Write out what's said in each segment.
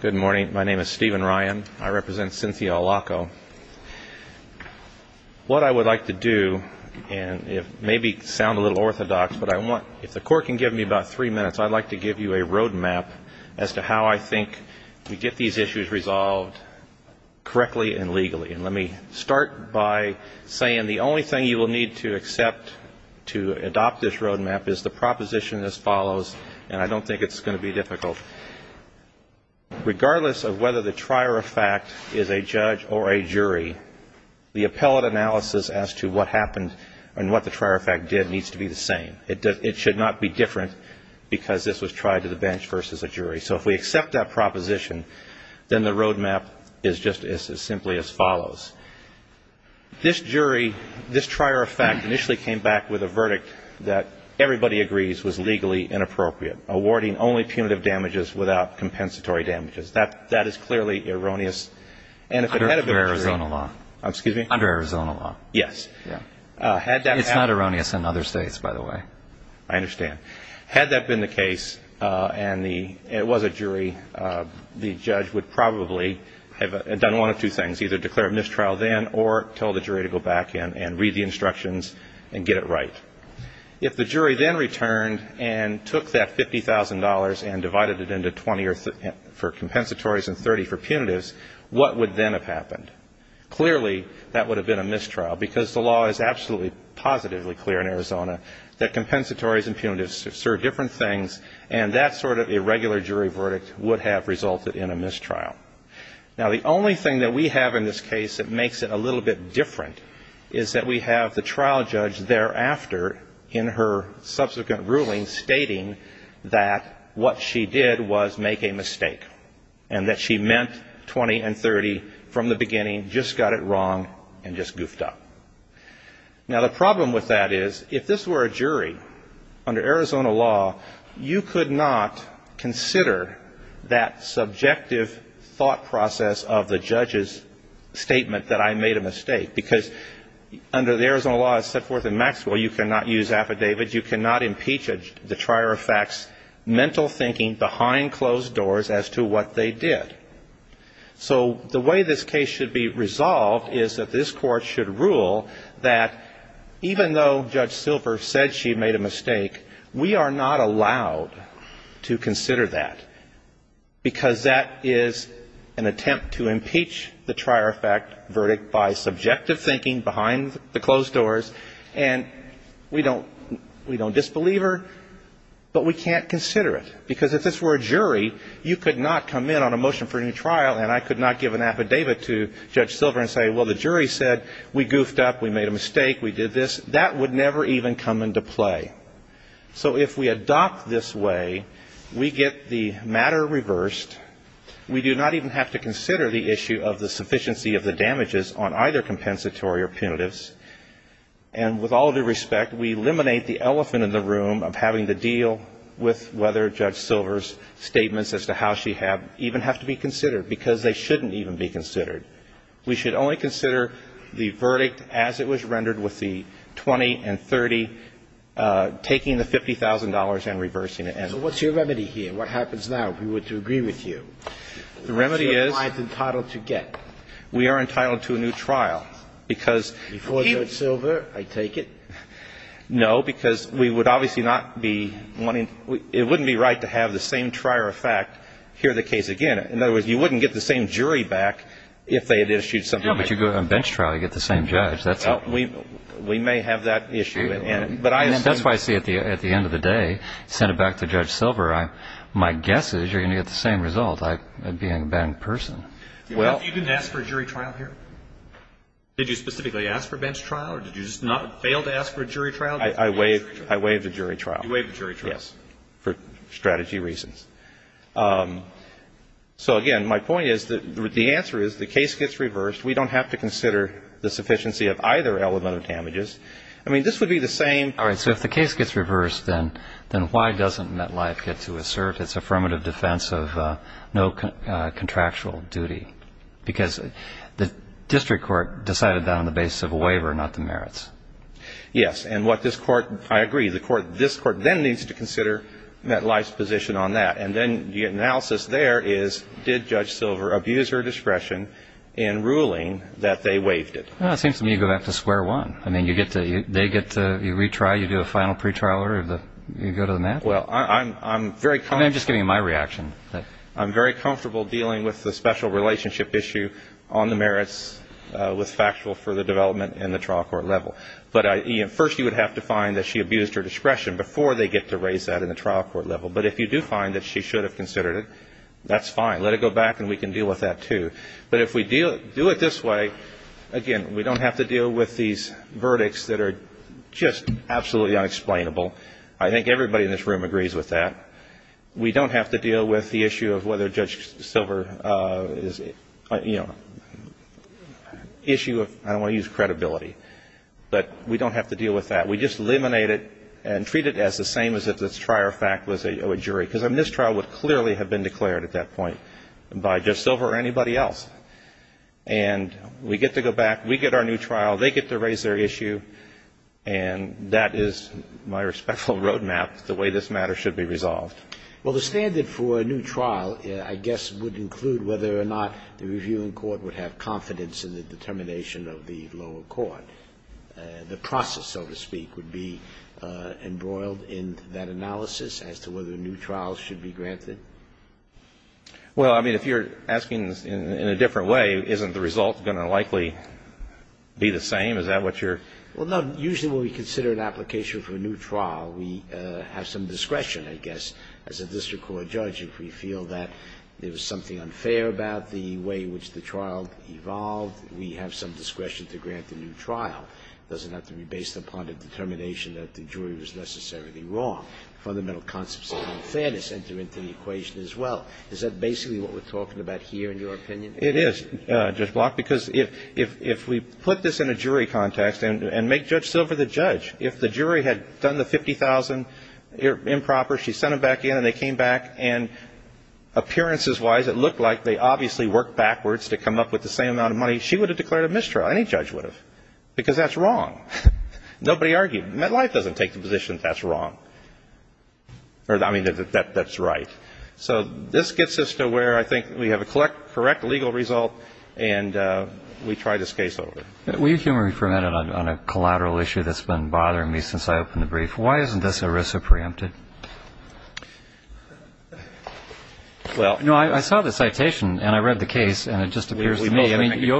Good morning. My name is Stephen Ryan. I represent Cynthia Allocco. What I would like to do, and if maybe sound a little orthodox, but I want, if the court can give me about three minutes, I'd like to give you a roadmap as to how I think we get these issues resolved correctly and legally. And let me start by saying the only thing you will need to accept to adopt this roadmap is the proposition as difficult. Regardless of whether the trier of fact is a judge or a jury, the appellate analysis as to what happened and what the trier of fact did needs to be the same. It should not be different because this was tried to the bench versus a jury. So if we accept that proposition, then the roadmap is just as simply as follows. This jury, this trier of fact initially came back with a compensation of damages without compensatory damages. That is clearly erroneous and if it hadn't been a jury... Under Arizona law. Excuse me? Under Arizona law. Yes. It's not erroneous in other states, by the way. I understand. Had that been the case, and it was a jury, the judge would probably have done one of two things. Either declare a mistrial then or tell the jury to go back in and read the instructions and get it right. If the jury then returned and took that $50,000 and divided it by the amount of damages, then the judge would probably have said, well, we're going to go back in and get it right. If the jury then divided it into 20 for compensatories and 30 for punitives, what would then have happened? Clearly, that would have been a mistrial because the law is absolutely positively clear in Arizona that compensatories and punitives serve different things and that sort of irregular jury verdict would have resulted in a mistrial. Now, the only thing that we have in this case that makes it a little bit different is that we have the trial judge thereafter in her subsequent ruling stating that what she did was make a mistake and that she meant 20 and 30 from the beginning, just got it wrong and just goofed up. Now, the problem with that is if this were a jury under Arizona law, you could not consider that subjective thought process of the judge's statement that I made a mistake because under the Arizona law as set forth in Maxwell, you cannot use affidavits, you cannot impeach the trier of facts mental thinking behind closed doors as to what they did. So the way this case should be resolved is that this court should rule that even though Judge Silver said she made a mistake, we are not allowed to consider that because that is an attempt to impeach the trier of fact verdict by subjective thinking behind the closed doors and we don't disbelieve her, but we can't consider it because if this were a jury, you could not come in on a motion from a judge and say, well, I made a mistake. That would never even come into play. So if we adopt this way, we get the matter reversed, we do not even have to consider the issue of the sufficiency of the damages on either compensatory or punitives, and with all due respect, we eliminate the elephant in the room of having to deal with whether Judge Silver's statements as to how she had even have to be considered. Because they shouldn't even be considered. We should only consider the verdict as it was rendered with the 20 and 30 taking the $50,000 and reversing it. So what's your remedy here? What happens now, if we were to agree with you? The remedy is we are entitled to a new trial. Before Judge Silver, I take it? No, because we would obviously not be wanting to – it wouldn't be right to have the same trier of fact hear the case again. In other words, you wouldn't get the same jury back if they had issued something. But you go to a bench trial, you get the same judge. We may have that issue. That's why I say at the end of the day, send it back to Judge Silver. My guess is you're going to get the same result, being a bad person. You didn't ask for a jury trial here? Did you specifically ask for a bench trial or did you just not fail to ask for a jury trial? I waived the jury trial. You waived the jury trial. Yes, for strategy reasons. So, again, my point is that the answer is the case gets reversed. We don't have to consider the sufficiency of either element of damages. I mean, this would be the same. All right. So if the case gets reversed, then why doesn't MetLife get to assert its affirmative defense of no contractual duty? Because the district court decided that on the basis of a waiver, not the merits. Yes. And what this Court – I agree. This Court then needs to consider MetLife's position on that. And then the analysis there is did Judge Silver abuse her discretion in ruling that they waived it? Well, it seems to me you go back to square one. I mean, you get to – they get to – you retry, you do a final pretrial, you go to the mat? Well, I'm very comfortable – I'm just giving you my reaction. I'm very comfortable dealing with the special relationship issue on the merits with factual for the development in the trial court level. But first you would have to find that she abused her discretion before they get to raise that in the trial court level. But if you do find that she should have considered it, that's fine. Let it go back and we can deal with that too. But if we do it this way, again, we don't have to deal with these verdicts that are just absolutely unexplainable. I think everybody in this room agrees with that. We don't have to deal with the issue of whether Judge Silver is – you know, issue of – I don't want to use credibility. But we don't have to deal with that. We just eliminate it and treat it as the same as if this prior fact was a jury. Because a mistrial would clearly have been declared at that point by Judge Silver or anybody else. And we get to go back. We get our new trial. They get to raise their issue. And that is my respectful roadmap, the way this matter should be resolved. Well, the standard for a new trial, I guess, would include whether or not the reviewing court would have confidence in the determination of the lower court. The process, so to speak, would be embroiled in that analysis as to whether a new trial should be granted. Well, I mean, if you're asking in a different way, isn't the result going to likely be the same? Is that what you're – Well, no. Usually when we consider an application for a new trial, we have some discretion, I guess, as a district court judge, if we feel that there was something unfair about the way in which the trial evolved. We have some discretion to grant the new trial. It doesn't have to be based upon a determination that the jury was necessarily wrong. Fundamental concepts of fairness enter into the equation as well. Is that basically what we're talking about here in your opinion? It is, Judge Block, because if we put this in a jury context and make Judge Silver the judge, if the jury had done the $50,000 improper, she sent them back in, and they came back, and appearances-wise it looked like they obviously worked backwards to come up with the same amount of money, she would have declared a mistrial. Any judge would have, because that's wrong. Nobody argued. MetLife doesn't take the position that that's wrong. I mean, that's right. So this gets us to where I think we have a correct legal result, and we try this case over. Will you humor me for a minute on a collateral issue that's been bothering me since I opened the brief? Why isn't this ERISA preempted? No, I saw the citation, and I read the case, and it just appears to me. I mean, you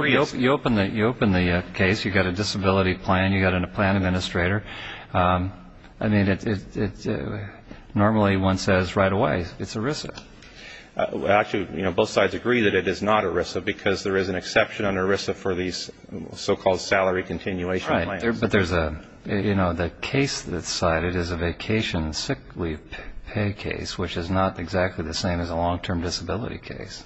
open the case, you've got a disability plan, you've got a plan administrator. I mean, normally one says right away, it's ERISA. Actually, both sides agree that it is not ERISA, because there is an exception under ERISA for these so-called salary continuation plans. Right, but the case that's cited is a vacation sick leave pay case, which is not exactly the same as a long-term disability case.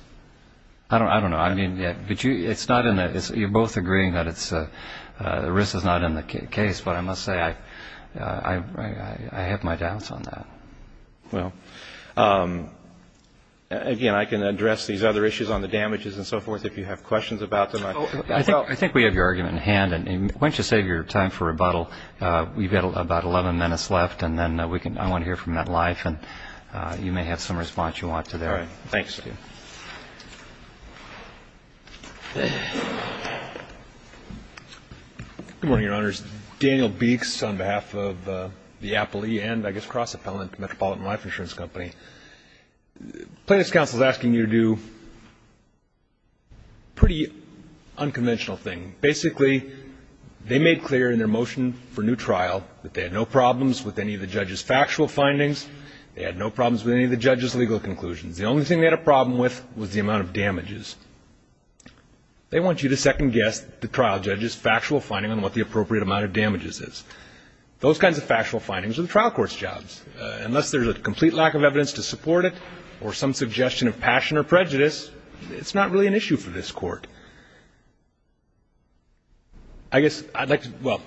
I don't know. I mean, you're both agreeing that ERISA is not in the case, but I must say I have my doubts on that. Well, again, I can address these other issues on the damages and so forth if you have questions about them. I think we have your argument in hand. Why don't you save your time for rebuttal? We've got about 11 minutes left, and then I want to hear from MetLife, and you may have some response you want to their. All right. Thanks. Good morning, Your Honors. Daniel Beeks on behalf of the Appley and, I guess, Cross Appellant Metropolitan Life Insurance Company. Plaintiff's counsel is asking you to do a pretty unconventional thing. Basically, they made clear in their motion for new trial that they had no problems with any of the judge's factual findings. They had no problems with any of the judge's legal conclusions. The only thing they had a problem with was the amount of damages. They want you to second-guess the trial judge's factual finding on what the appropriate amount of damages is. Those kinds of factual findings are the trial court's jobs. Unless there's a complete lack of evidence to support it or some suggestion of passion or prejudice, it's not really an issue for this court. I guess I'd like to – well,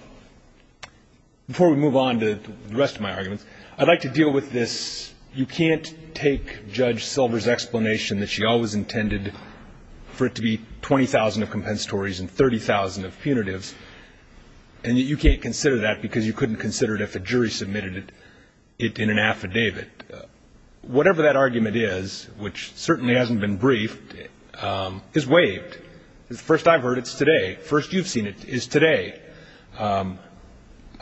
before we move on to the rest of my arguments, I'd like to deal with this You can't take Judge Silver's explanation that she always intended for it to be 20,000 of compensatories and 30,000 of punitives, and you can't consider that because you couldn't consider it if a jury submitted it in an affidavit. Whatever that argument is, which certainly hasn't been briefed, is waived. First I've heard, it's today. First you've seen it is today.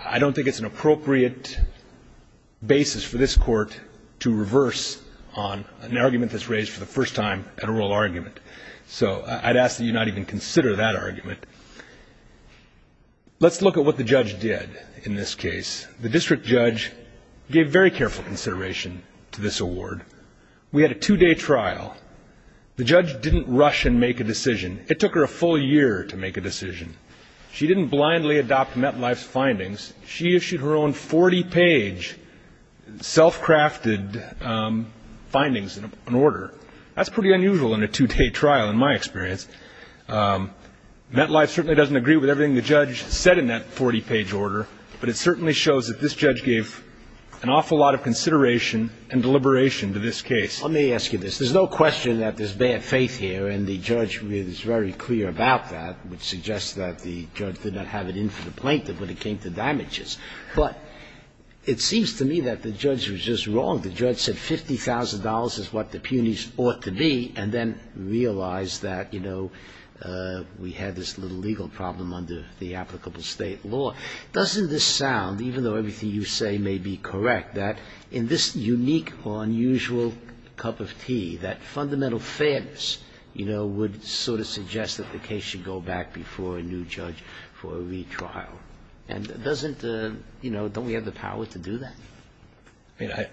I don't think it's an appropriate basis for this court to reverse on an argument that's raised for the first time at a rural argument. So I'd ask that you not even consider that argument. Let's look at what the judge did in this case. The district judge gave very careful consideration to this award. We had a two-day trial. The judge didn't rush and make a decision. It took her a full year to make a decision. She didn't blindly adopt Metlife's findings. She issued her own 40-page, self-crafted findings in an order. That's pretty unusual in a two-day trial, in my experience. Metlife certainly doesn't agree with everything the judge said in that 40-page order, but it certainly shows that this judge gave an awful lot of consideration and deliberation to this case. Let me ask you this. There's no question that there's bad faith here, and the judge was very clear about that, which suggests that the judge did not have it in for the plaintiff when it came to damages. But it seems to me that the judge was just wrong. The judge said $50,000 is what the punies ought to be, and then realized that, you know, we had this little legal problem under the applicable state law. Doesn't this sound, even though everything you say may be correct, that in this unique or unusual cup of tea, that fundamental fairness, you know, would sort of suggest that the case should go back before a new judge for a retrial? And doesn't, you know, don't we have the power to do that? I mean,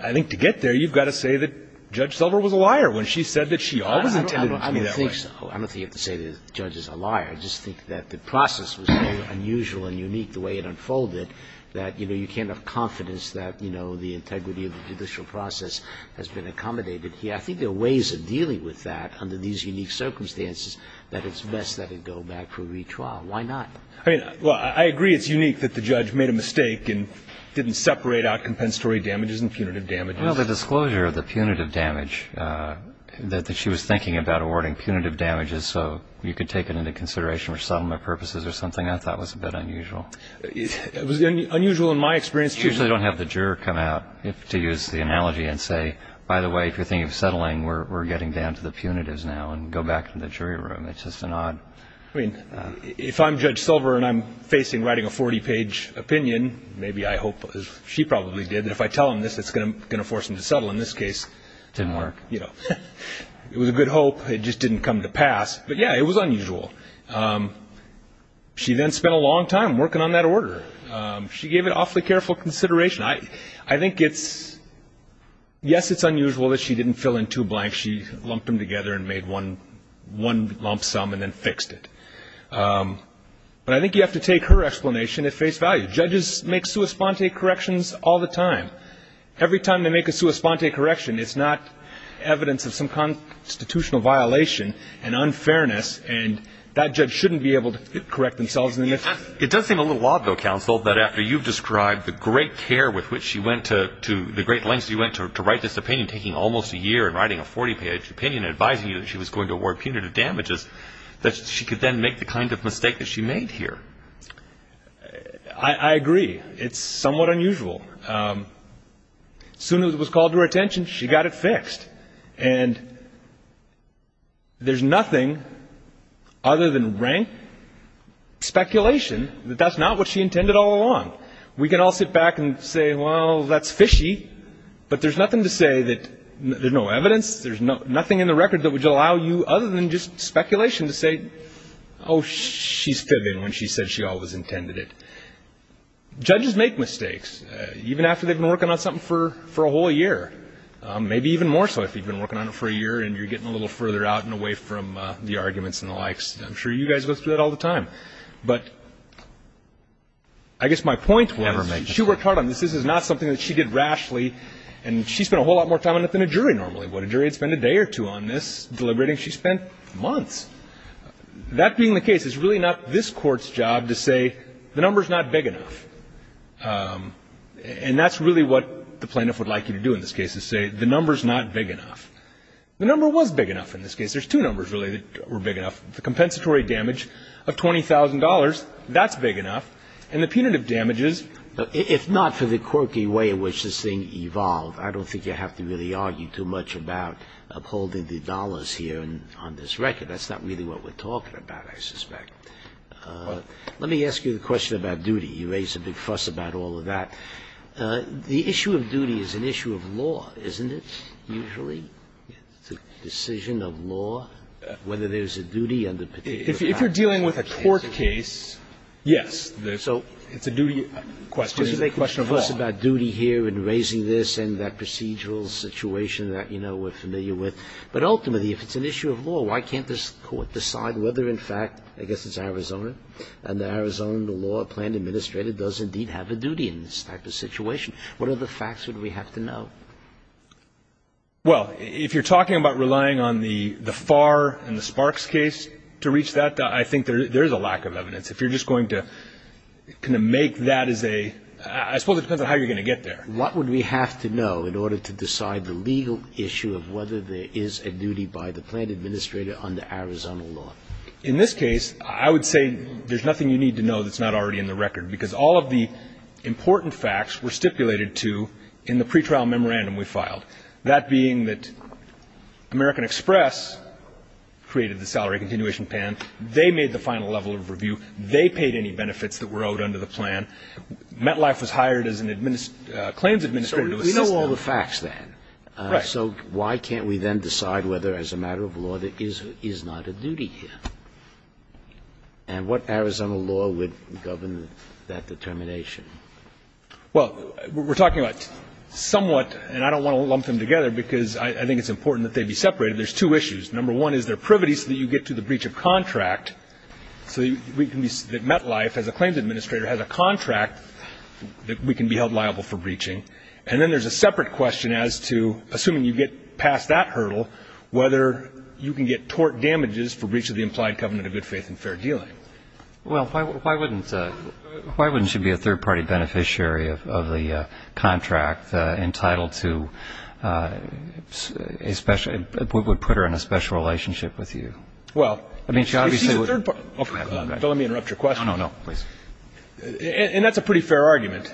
I think to get there, you've got to say that Judge Silver was a liar when she said that she always intended it to be that way. I don't think so. I don't think you have to say that the judge is a liar. I just think that the process was very unusual and unique, the way it unfolded, that, you know, you can't have confidence that, you know, the integrity of the judicial process has been accommodated here. I think there are ways of dealing with that under these unique circumstances that it's best that it go back for a retrial. Why not? I mean, well, I agree it's unique that the judge made a mistake and didn't separate out compensatory damages and punitive damages. Well, the disclosure of the punitive damage, that she was thinking about awarding so you could take it into consideration for settlement purposes or something, I thought was a bit unusual. It was unusual in my experience, too. You usually don't have the juror come out to use the analogy and say, by the way, if you're thinking of settling, we're getting down to the punitives now and go back to the jury room. It's just an odd. I mean, if I'm Judge Silver and I'm facing writing a 40-page opinion, maybe I hope, as she probably did, that if I tell him this, it's going to force him to settle in this case. Didn't work. It was a good hope. It just didn't come to pass. But, yeah, it was unusual. She then spent a long time working on that order. She gave it awfully careful consideration. I think it's, yes, it's unusual that she didn't fill in two blanks. She lumped them together and made one lump sum and then fixed it. But I think you have to take her explanation at face value. Judges make sua sponte corrections all the time. Every time they make a sua sponte correction, it's not evidence of some constitutional violation and unfairness, and that judge shouldn't be able to correct themselves. It does seem a little odd, though, counsel, that after you've described the great care with which she went to the great lengths she went to write this opinion, taking almost a year in writing a 40-page opinion, advising you that she was going to award punitive damages, that she could then make the kind of mistake that she made here. I agree. It's somewhat unusual. As soon as it was called to her attention, she got it fixed. And there's nothing other than rank speculation that that's not what she intended all along. We can all sit back and say, well, that's fishy. But there's nothing to say that there's no evidence, there's nothing in the record that would allow you other than just speculation to say, oh, she's fibbing when she said she always intended it. Judges make mistakes, even after they've been working on something for a whole year, maybe even more so if you've been working on it for a year and you're getting a little further out and away from the arguments and the likes. I'm sure you guys go through that all the time. But I guess my point was she worked hard on this. This is not something that she did rashly, and she spent a whole lot more time on it than a jury normally would. A jury would spend a day or two on this deliberating. She spent months. That being the case, it's really not this Court's job to say the number's not big enough. And that's really what the plaintiff would like you to do in this case, is say the number's not big enough. The number was big enough in this case. There's two numbers, really, that were big enough. The compensatory damage of $20,000, that's big enough. And the punitive damage is. If not for the quirky way in which this thing evolved, I don't think you have to really argue too much about upholding the dollars here on this record. That's not really what we're talking about, I suspect. Let me ask you the question about duty. You raised a big fuss about all of that. The issue of duty is an issue of law, isn't it, usually? It's a decision of law, whether there's a duty under particular facts. If you're dealing with a court case, yes, it's a duty question. So you're making a fuss about duty here and raising this and that procedural situation that, you know, we're familiar with. But ultimately, if it's an issue of law, why can't this court decide whether, in fact, I guess it's Arizona, and the Arizona law plan administrator does indeed have a duty in this type of situation? What other facts would we have to know? Well, if you're talking about relying on the Farr and the Sparks case to reach that, I think there is a lack of evidence. If you're just going to kind of make that as a ‑‑ I suppose it depends on how you're going to get there. What would we have to know in order to decide the legal issue of whether there is a duty by the plan administrator under Arizona law? In this case, I would say there's nothing you need to know that's not already in the record, because all of the important facts were stipulated to in the pretrial memorandum we filed, that being that American Express created the salary continuation plan. They made the final level of review. They paid any benefits that were owed under the plan. MetLife was hired as a claims administrator to assist them. So we know all the facts then. Right. So why can't we then decide whether, as a matter of law, there is not a duty here? And what Arizona law would govern that determination? Well, we're talking about somewhat ‑‑ and I don't want to lump them together because I think it's important that they be separated. There's two issues. Number one is they're privity so that you get to the breach of contract, so that MetLife, as a claims administrator, has a contract that we can be held liable for breaching. And then there's a separate question as to, assuming you get past that hurdle, whether you can get tort damages for breach of the implied covenant of good faith and fair dealing. Well, why wouldn't she be a third-party beneficiary of the contract entitled to a special ‑‑ would put her in a special relationship with you? Well, if she's a third‑party ‑‑ Let me interrupt your question. No, no, no. Please. And that's a pretty fair argument.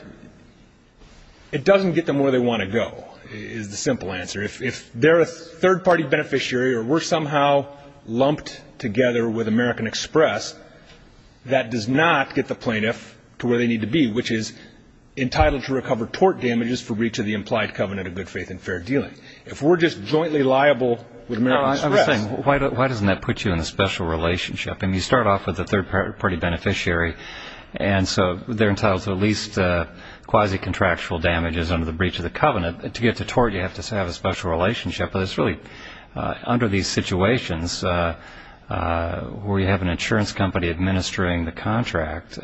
It doesn't get them where they want to go, is the simple answer. If they're a third-party beneficiary or we're somehow lumped together with American Express, that does not get the plaintiff to where they need to be, which is entitled to recover tort damages for breach of the implied covenant of good faith and fair dealing. If we're just jointly liable with American Express ‑‑ I was saying, why doesn't that put you in a special relationship? I mean, you start off with a third‑party beneficiary, and so they're entitled to at least quasi‑contractual damages under the breach of the covenant. To get to tort, you have to have a special relationship. But it's really under these situations where you have an insurance company administering the contract,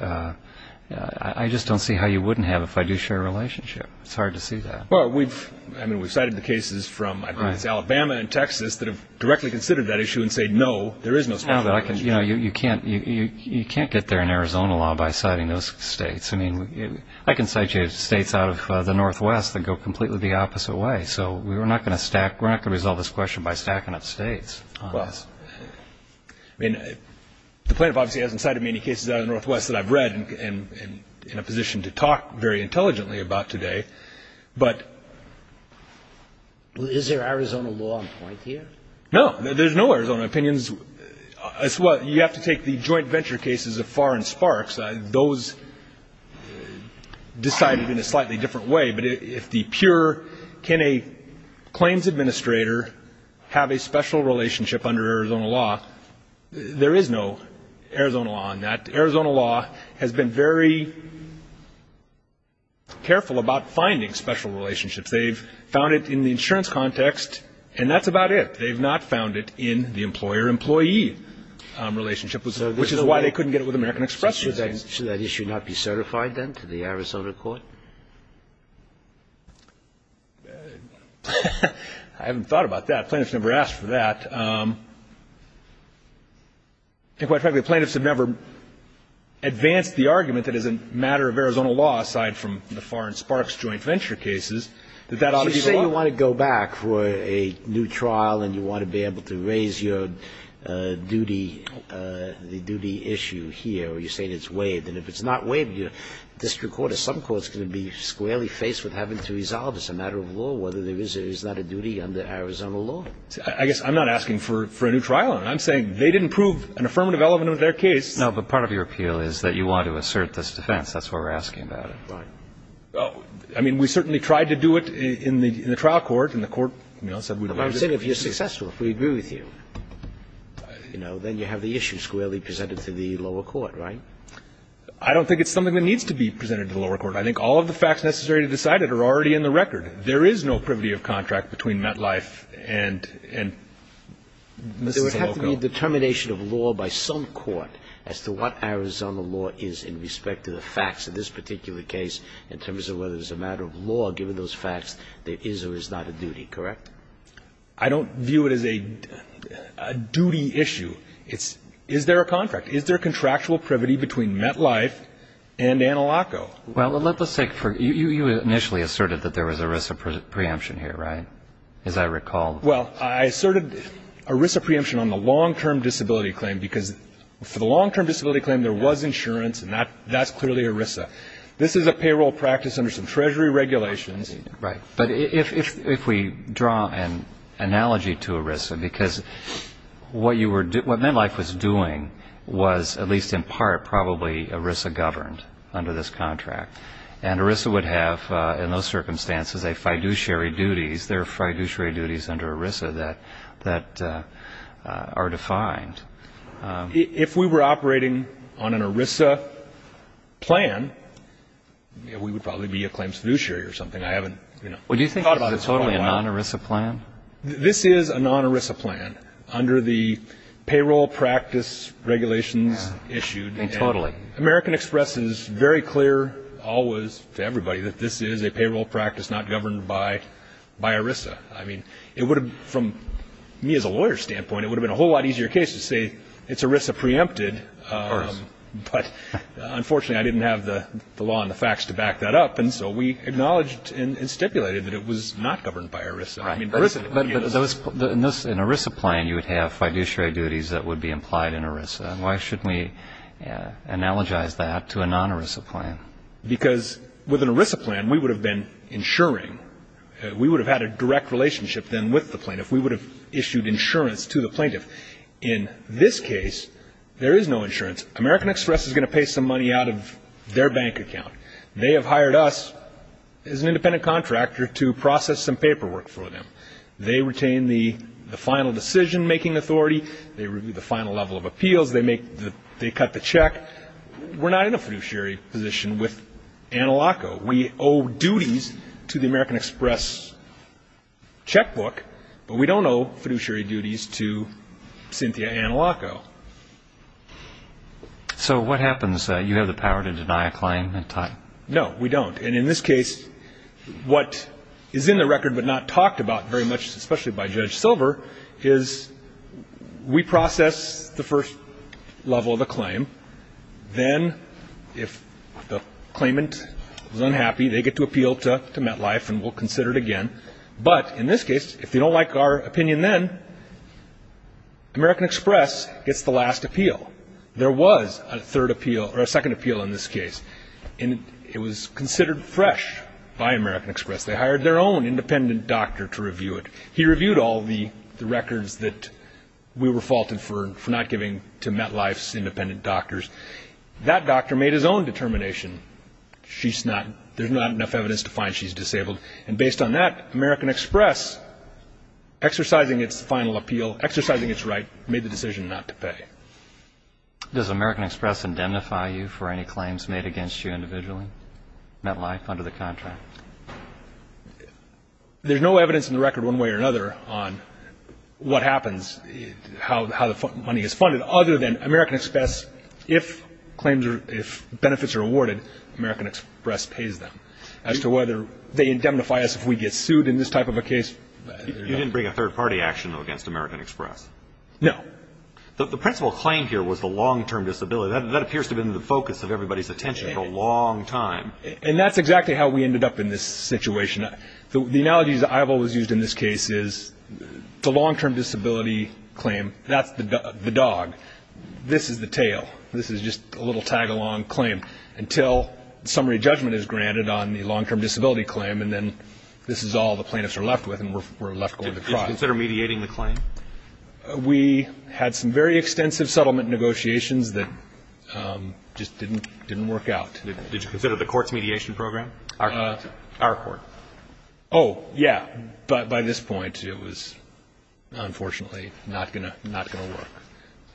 I just don't see how you wouldn't have a fiduciary relationship. It's hard to see that. Well, we've cited the cases from, I believe it's Alabama and Texas, that have directly considered that issue and say, no, there is no special relationship. You know, you can't get there in Arizona law by citing those states. I mean, I can cite you states out of the Northwest that go completely the opposite way. So we're not going to stack ‑‑ we're not going to resolve this question by stacking up states. Well, I mean, the plaintiff obviously hasn't cited many cases out of the Northwest that I've read and in a position to talk very intelligently about today. But ‑‑ Is there Arizona law on point here? No. There's no Arizona opinions. You have to take the joint venture cases of Farr and Sparks. Those decided in a slightly different way. But if the pure can a claims administrator have a special relationship under Arizona law, there is no Arizona law on that. Arizona law has been very careful about finding special relationships. They've found it in the insurance context, and that's about it. They've not found it in the employer‑employee relationship, which is why they couldn't get it with American Express these days. Should that issue not be certified then to the Arizona court? I haven't thought about that. Plaintiffs never asked for that. And quite frankly, plaintiffs have never advanced the argument that as a matter of Arizona law, aside from the Farr and Sparks joint venture cases, that that ought to be the law. You say you want to go back for a new trial and you want to be able to raise your duty, the duty issue here, or you're saying it's waived. And if it's not waived, your district court or some court is going to be squarely faced with having to resolve as a matter of law whether there is or is not a duty under Arizona law. I guess I'm not asking for a new trial. I'm saying they didn't prove an affirmative element of their case. No, but part of your appeal is that you want to assert this defense. That's why we're asking about it. Right. Well, I mean, we certainly tried to do it in the trial court, and the court said we would waive it. But I'm saying if you're successful, if we agree with you, then you have the issue squarely presented to the lower court, right? I don't think it's something that needs to be presented to the lower court. I think all of the facts necessary to decide it are already in the record. There is no privity of contract between Metlife and Mrs. DeLoco. There would have to be a determination of law by some court as to what Arizona law is in respect to the facts of this particular case in terms of whether it's a matter of law, given those facts, there is or is not a duty, correct? I don't view it as a duty issue. It's is there a contract? Is there contractual privity between Metlife and Anna Locco? Well, let's take for you, you initially asserted that there was ERISA preemption here, right? As I recall. Well, I asserted ERISA preemption on the long-term disability claim, because for the long-term disability claim, there was insurance, and that's clearly ERISA. This is a payroll practice under some Treasury regulations. Right. But if we draw an analogy to ERISA, because what Metlife was doing was, at least in part, probably ERISA governed under this contract. And ERISA would have, in those circumstances, a fiduciary duties. There are fiduciary duties under ERISA that are defined. If we were operating on an ERISA plan, we would probably be a claims fiduciary I haven't, you know, thought about it for quite a while. Well, do you think this is totally a non-ERISA plan? This is a non-ERISA plan under the payroll practice regulations issued. Totally. American Express is very clear, always, to everybody, that this is a payroll practice not governed by ERISA. I mean, it would have, from me as a lawyer's standpoint, it would have been a whole lot easier case to say, it's ERISA preempted. Of course. But unfortunately, I didn't have the law and the facts to back that up, and so we acknowledged and stipulated that it was not governed by ERISA. Right. But in an ERISA plan, you would have fiduciary duties that would be implied in ERISA. Why shouldn't we analogize that to a non-ERISA plan? Because with an ERISA plan, we would have been insuring. We would have had a direct relationship then with the plaintiff. We would have issued insurance to the plaintiff. In this case, there is no insurance. American Express is going to pay some money out of their bank account. They have hired us as an independent contractor to process some paperwork for them. They retain the final decision-making authority. They review the final level of appeals. They cut the check. We're not in a fiduciary position with Analoco. We owe duties to the American Express checkbook, but we don't owe fiduciary duties to Cynthia Analoco. So what happens? You have the power to deny a claim? No, we don't. And in this case, what is in the record but not talked about very much, especially by Judge Silver, is we process the first level of the claim. Then, if the claimant is unhappy, they get to appeal to MetLife and we'll consider it again. But in this case, if they don't like our opinion then, American Express gets the last appeal. There was a second appeal in this case, and it was considered fresh by American Express. They hired their own independent doctor to review it. He reviewed all the records that we were faulted for not giving to MetLife's independent doctors. That doctor made his own determination. There's not enough evidence to find she's disabled. And based on that, American Express, exercising its final appeal, exercising its right, made the decision not to pay. Does American Express indemnify you for any claims made against you individually, MetLife, under the contract? There's no evidence in the record one way or another on what happens, how the money is funded, other than American Express, if claims are – if benefits are awarded, American Express pays them. As to whether they indemnify us if we get sued in this type of a case – You didn't bring a third-party action against American Express? No. The principal claim here was the long-term disability. That appears to have been the focus of everybody's attention for a long time. And that's exactly how we ended up in this situation. The analogy that I've always used in this case is the long-term disability claim, that's the dog. This is the tail. This is just a little tag-along claim until summary judgment is granted on the long-term disability claim, and then this is all the plaintiffs are left with and we're left going to trial. Did you consider mediating the claim? We had some very extensive settlement negotiations that just didn't work out. Did you consider the court's mediation program? Our court. Oh, yeah. But by this point, it was unfortunately not going to work.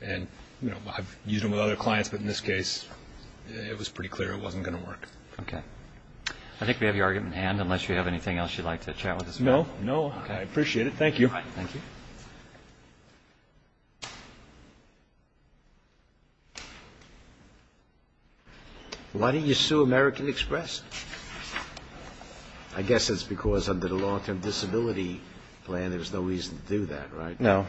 I've used them with other clients, but in this case, it was pretty clear it wasn't going to work. Okay. I think we have your argument at hand, unless you have anything else you'd like to chat with us about. No, no. I appreciate it. Thank you. Thank you. Why didn't you sue American Express? I guess it's because under the long-term disability plan, there's no reason to do that, right? No.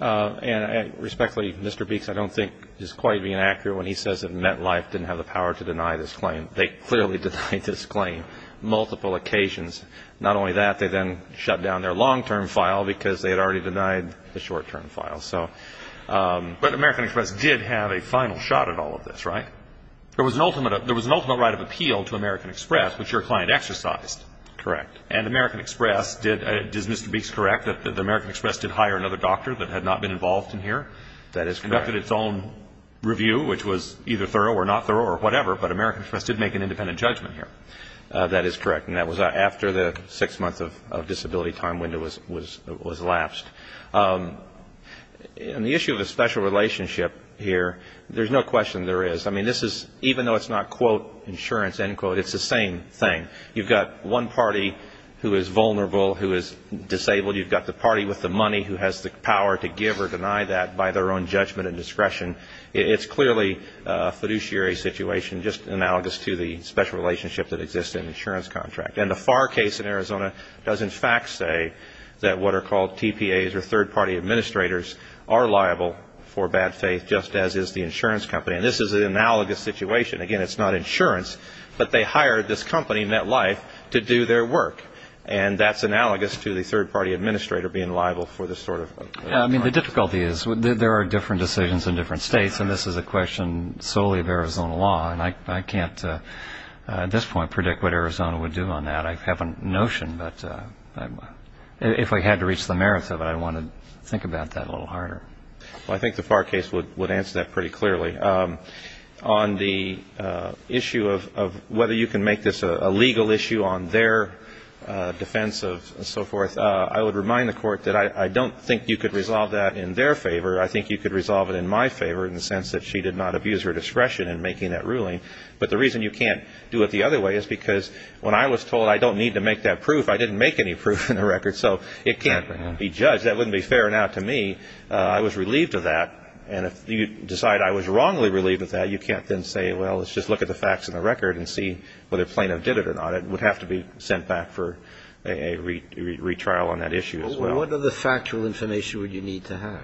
And respectfully, Mr. Beeks, I don't think is quite being accurate when he says that MetLife didn't have the power to deny this claim. They clearly denied this claim multiple occasions. Not only that, they then shut down their long-term file because they had already denied the short-term file. But American Express did have a final shot at all of this, right? There was an ultimate right of appeal to American Express, which your client exercised. Correct. And American Express did, is Mr. Beeks correct, that American Express did hire another doctor that had not been involved in here? That is correct. Conducted its own review, which was either thorough or not thorough or whatever, but American Express did make an independent judgment here. That is correct. And that was after the six-month of disability time window was lapsed. On the issue of the special relationship here, there's no question there is. I mean, this is, even though it's not, quote, insurance, end quote, it's the same thing. You've got one party who is vulnerable, who is disabled. You've got the party with the money who has the power to give or deny that by their own judgment and discretion. It's clearly a fiduciary situation, just analogous to the special relationship that exists in an insurance contract. And the Farr case in Arizona does, in fact, say that what are called TPAs or third-party administrators are liable for bad faith, just as is the insurance company. And this is an analogous situation. Again, it's not insurance, but they hired this company, NetLife, to do their work. And that's analogous to the third-party administrator being liable for this sort of contract. I mean, the difficulty is there are different decisions in different states, and this is a question solely of Arizona law. And I can't at this point predict what Arizona would do on that. I have a notion, but if I had to reach the merits of it, I'd want to think about that a little harder. Well, I think the Farr case would answer that pretty clearly. On the issue of whether you can make this a legal issue on their defense of so forth, I would remind the Court that I don't think you could resolve that in their favor. I think you could resolve it in my favor in the sense that she did not abuse her discretion in making that ruling. But the reason you can't do it the other way is because when I was told I don't need to make that proof, I didn't make any proof in the record, so it can't be judged. That wouldn't be fair enough to me. I was relieved of that. And if you decide I was wrongly relieved of that, you can't then say, well, let's just look at the facts in the record and see whether plaintiff did it or not. It would have to be sent back for a retrial on that issue as well. Well, what other factual information would you need to have?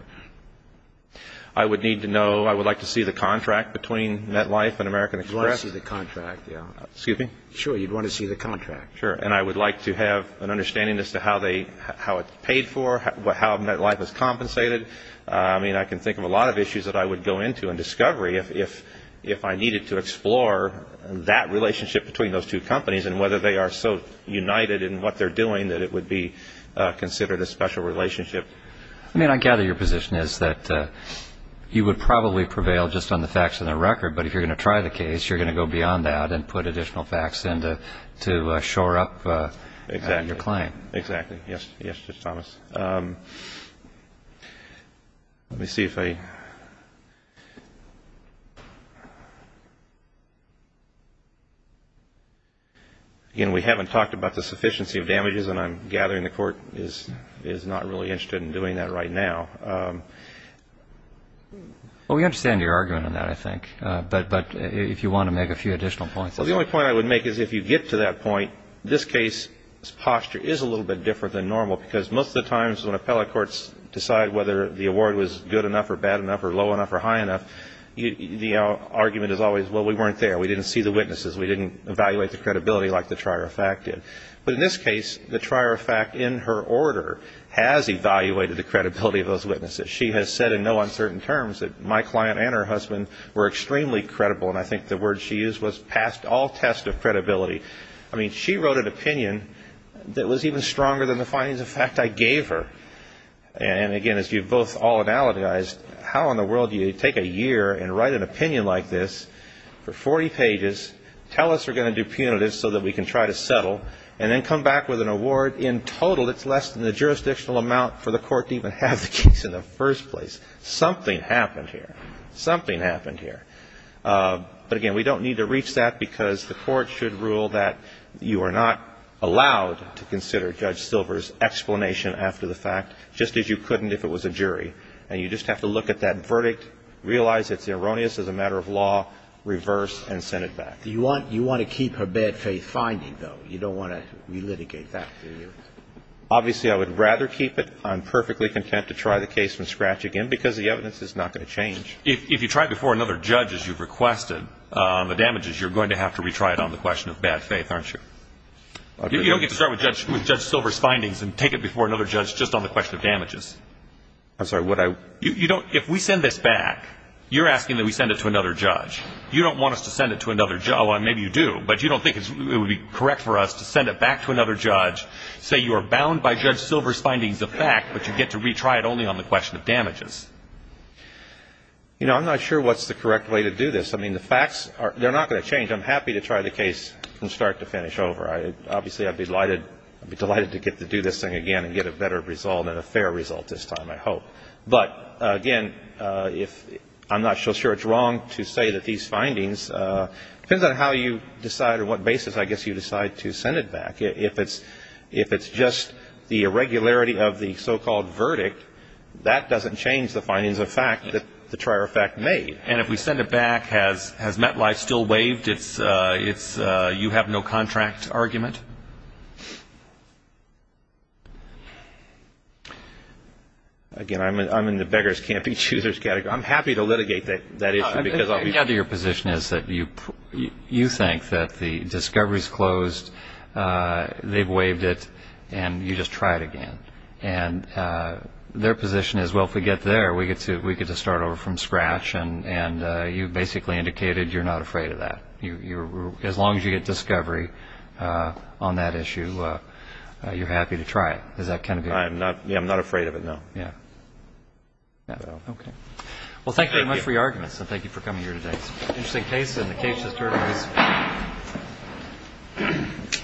I would need to know. I would like to see the contract between MetLife and American Express. You'd want to see the contract, yeah. Excuse me? Sure. You'd want to see the contract. Sure. And I would like to have an understanding as to how they, how it's paid for, how MetLife is compensated. I mean, I can think of a lot of issues that I would go into in discovery if I needed to explore that relationship between those two companies and whether they are so united in what they're doing that it would be considered a special relationship. I mean, I gather your position is that you would probably prevail just on the facts in the record, but if you're going to try the case, you're going to go beyond that and put additional facts in to shore up your claim. Exactly. Yes, Judge Thomas. Let me see if I – again, we haven't talked about the sufficiency of damages, and I'm gathering the Court is not really interested in doing that right now. Well, we understand your argument on that, I think, but if you want to make a few additional points. Well, the only point I would make is if you get to that point, this case's posture is a little bit different than normal because most of the times when appellate courts decide whether the award was good enough or bad enough or low enough or high enough, the argument is always, well, we weren't there. We didn't see the witnesses. We didn't evaluate the credibility like the trier of fact did. But in this case, the trier of fact in her order has evaluated the credibility of those witnesses. She has said in no uncertain terms that my client and her husband were extremely credible, and I think the word she used was past all test of credibility. I mean, she wrote an opinion that was even stronger than the findings of fact I gave her. And, again, as you've both all analogized, how in the world do you take a year and write an opinion like this for 40 pages, tell us we're going to do punitive so that we can try to settle, and then come back with an award in total that's less than the jurisdictional amount for the Court to even have the case in the first place? Something happened here. Something happened here. But, again, we don't need to reach that because the Court should rule that you are not allowed to consider Judge Silver's explanation after the fact, just as you couldn't if it was a jury. And you just have to look at that verdict, realize it's erroneous as a matter of law, reverse, and send it back. Do you want to keep her bad faith finding, though? You don't want to relitigate that, do you? Obviously, I would rather keep it. I'm perfectly content to try the case from scratch again because the evidence is not going to change. If you try it before another judge, as you've requested, on the damages, you're going to have to retry it on the question of bad faith, aren't you? You don't get to start with Judge Silver's findings and take it before another judge just on the question of damages. I'm sorry. If we send this back, you're asking that we send it to another judge. You don't want us to send it to another judge. Well, maybe you do, but you don't think it would be correct for us to send it back to another judge, say you are bound by Judge Silver's findings of fact, but you get to retry it only on the question of damages. You know, I'm not sure what's the correct way to do this. I mean, the facts, they're not going to change. I'm happy to try the case from start to finish over. Obviously, I'd be delighted to get to do this thing again and get a better result and a fair result this time, I hope. But, again, I'm not so sure it's wrong to say that these findings, depends on how you decide or what basis, I guess, you decide to send it back. If it's just the irregularity of the so-called verdict, that doesn't change the findings of fact that the trier of fact made. And if we send it back, has MetLife still waived its you-have-no-contract argument? Again, I'm in the beggars can't be choosers category. I'm happy to litigate that issue. I gather your position is that you think that the discovery's closed, they've waived it, and you just try it again. And their position is, well, if we get there, we get to start over from scratch. And you basically indicated you're not afraid of that. As long as you get discovery on that issue, you're happy to try it. Is that kind of it? I'm not afraid of it, no. Okay. Well, thank you very much for your arguments, and thank you for coming here today. It's an interesting case. And the case is termed as ‑‑ Thank you.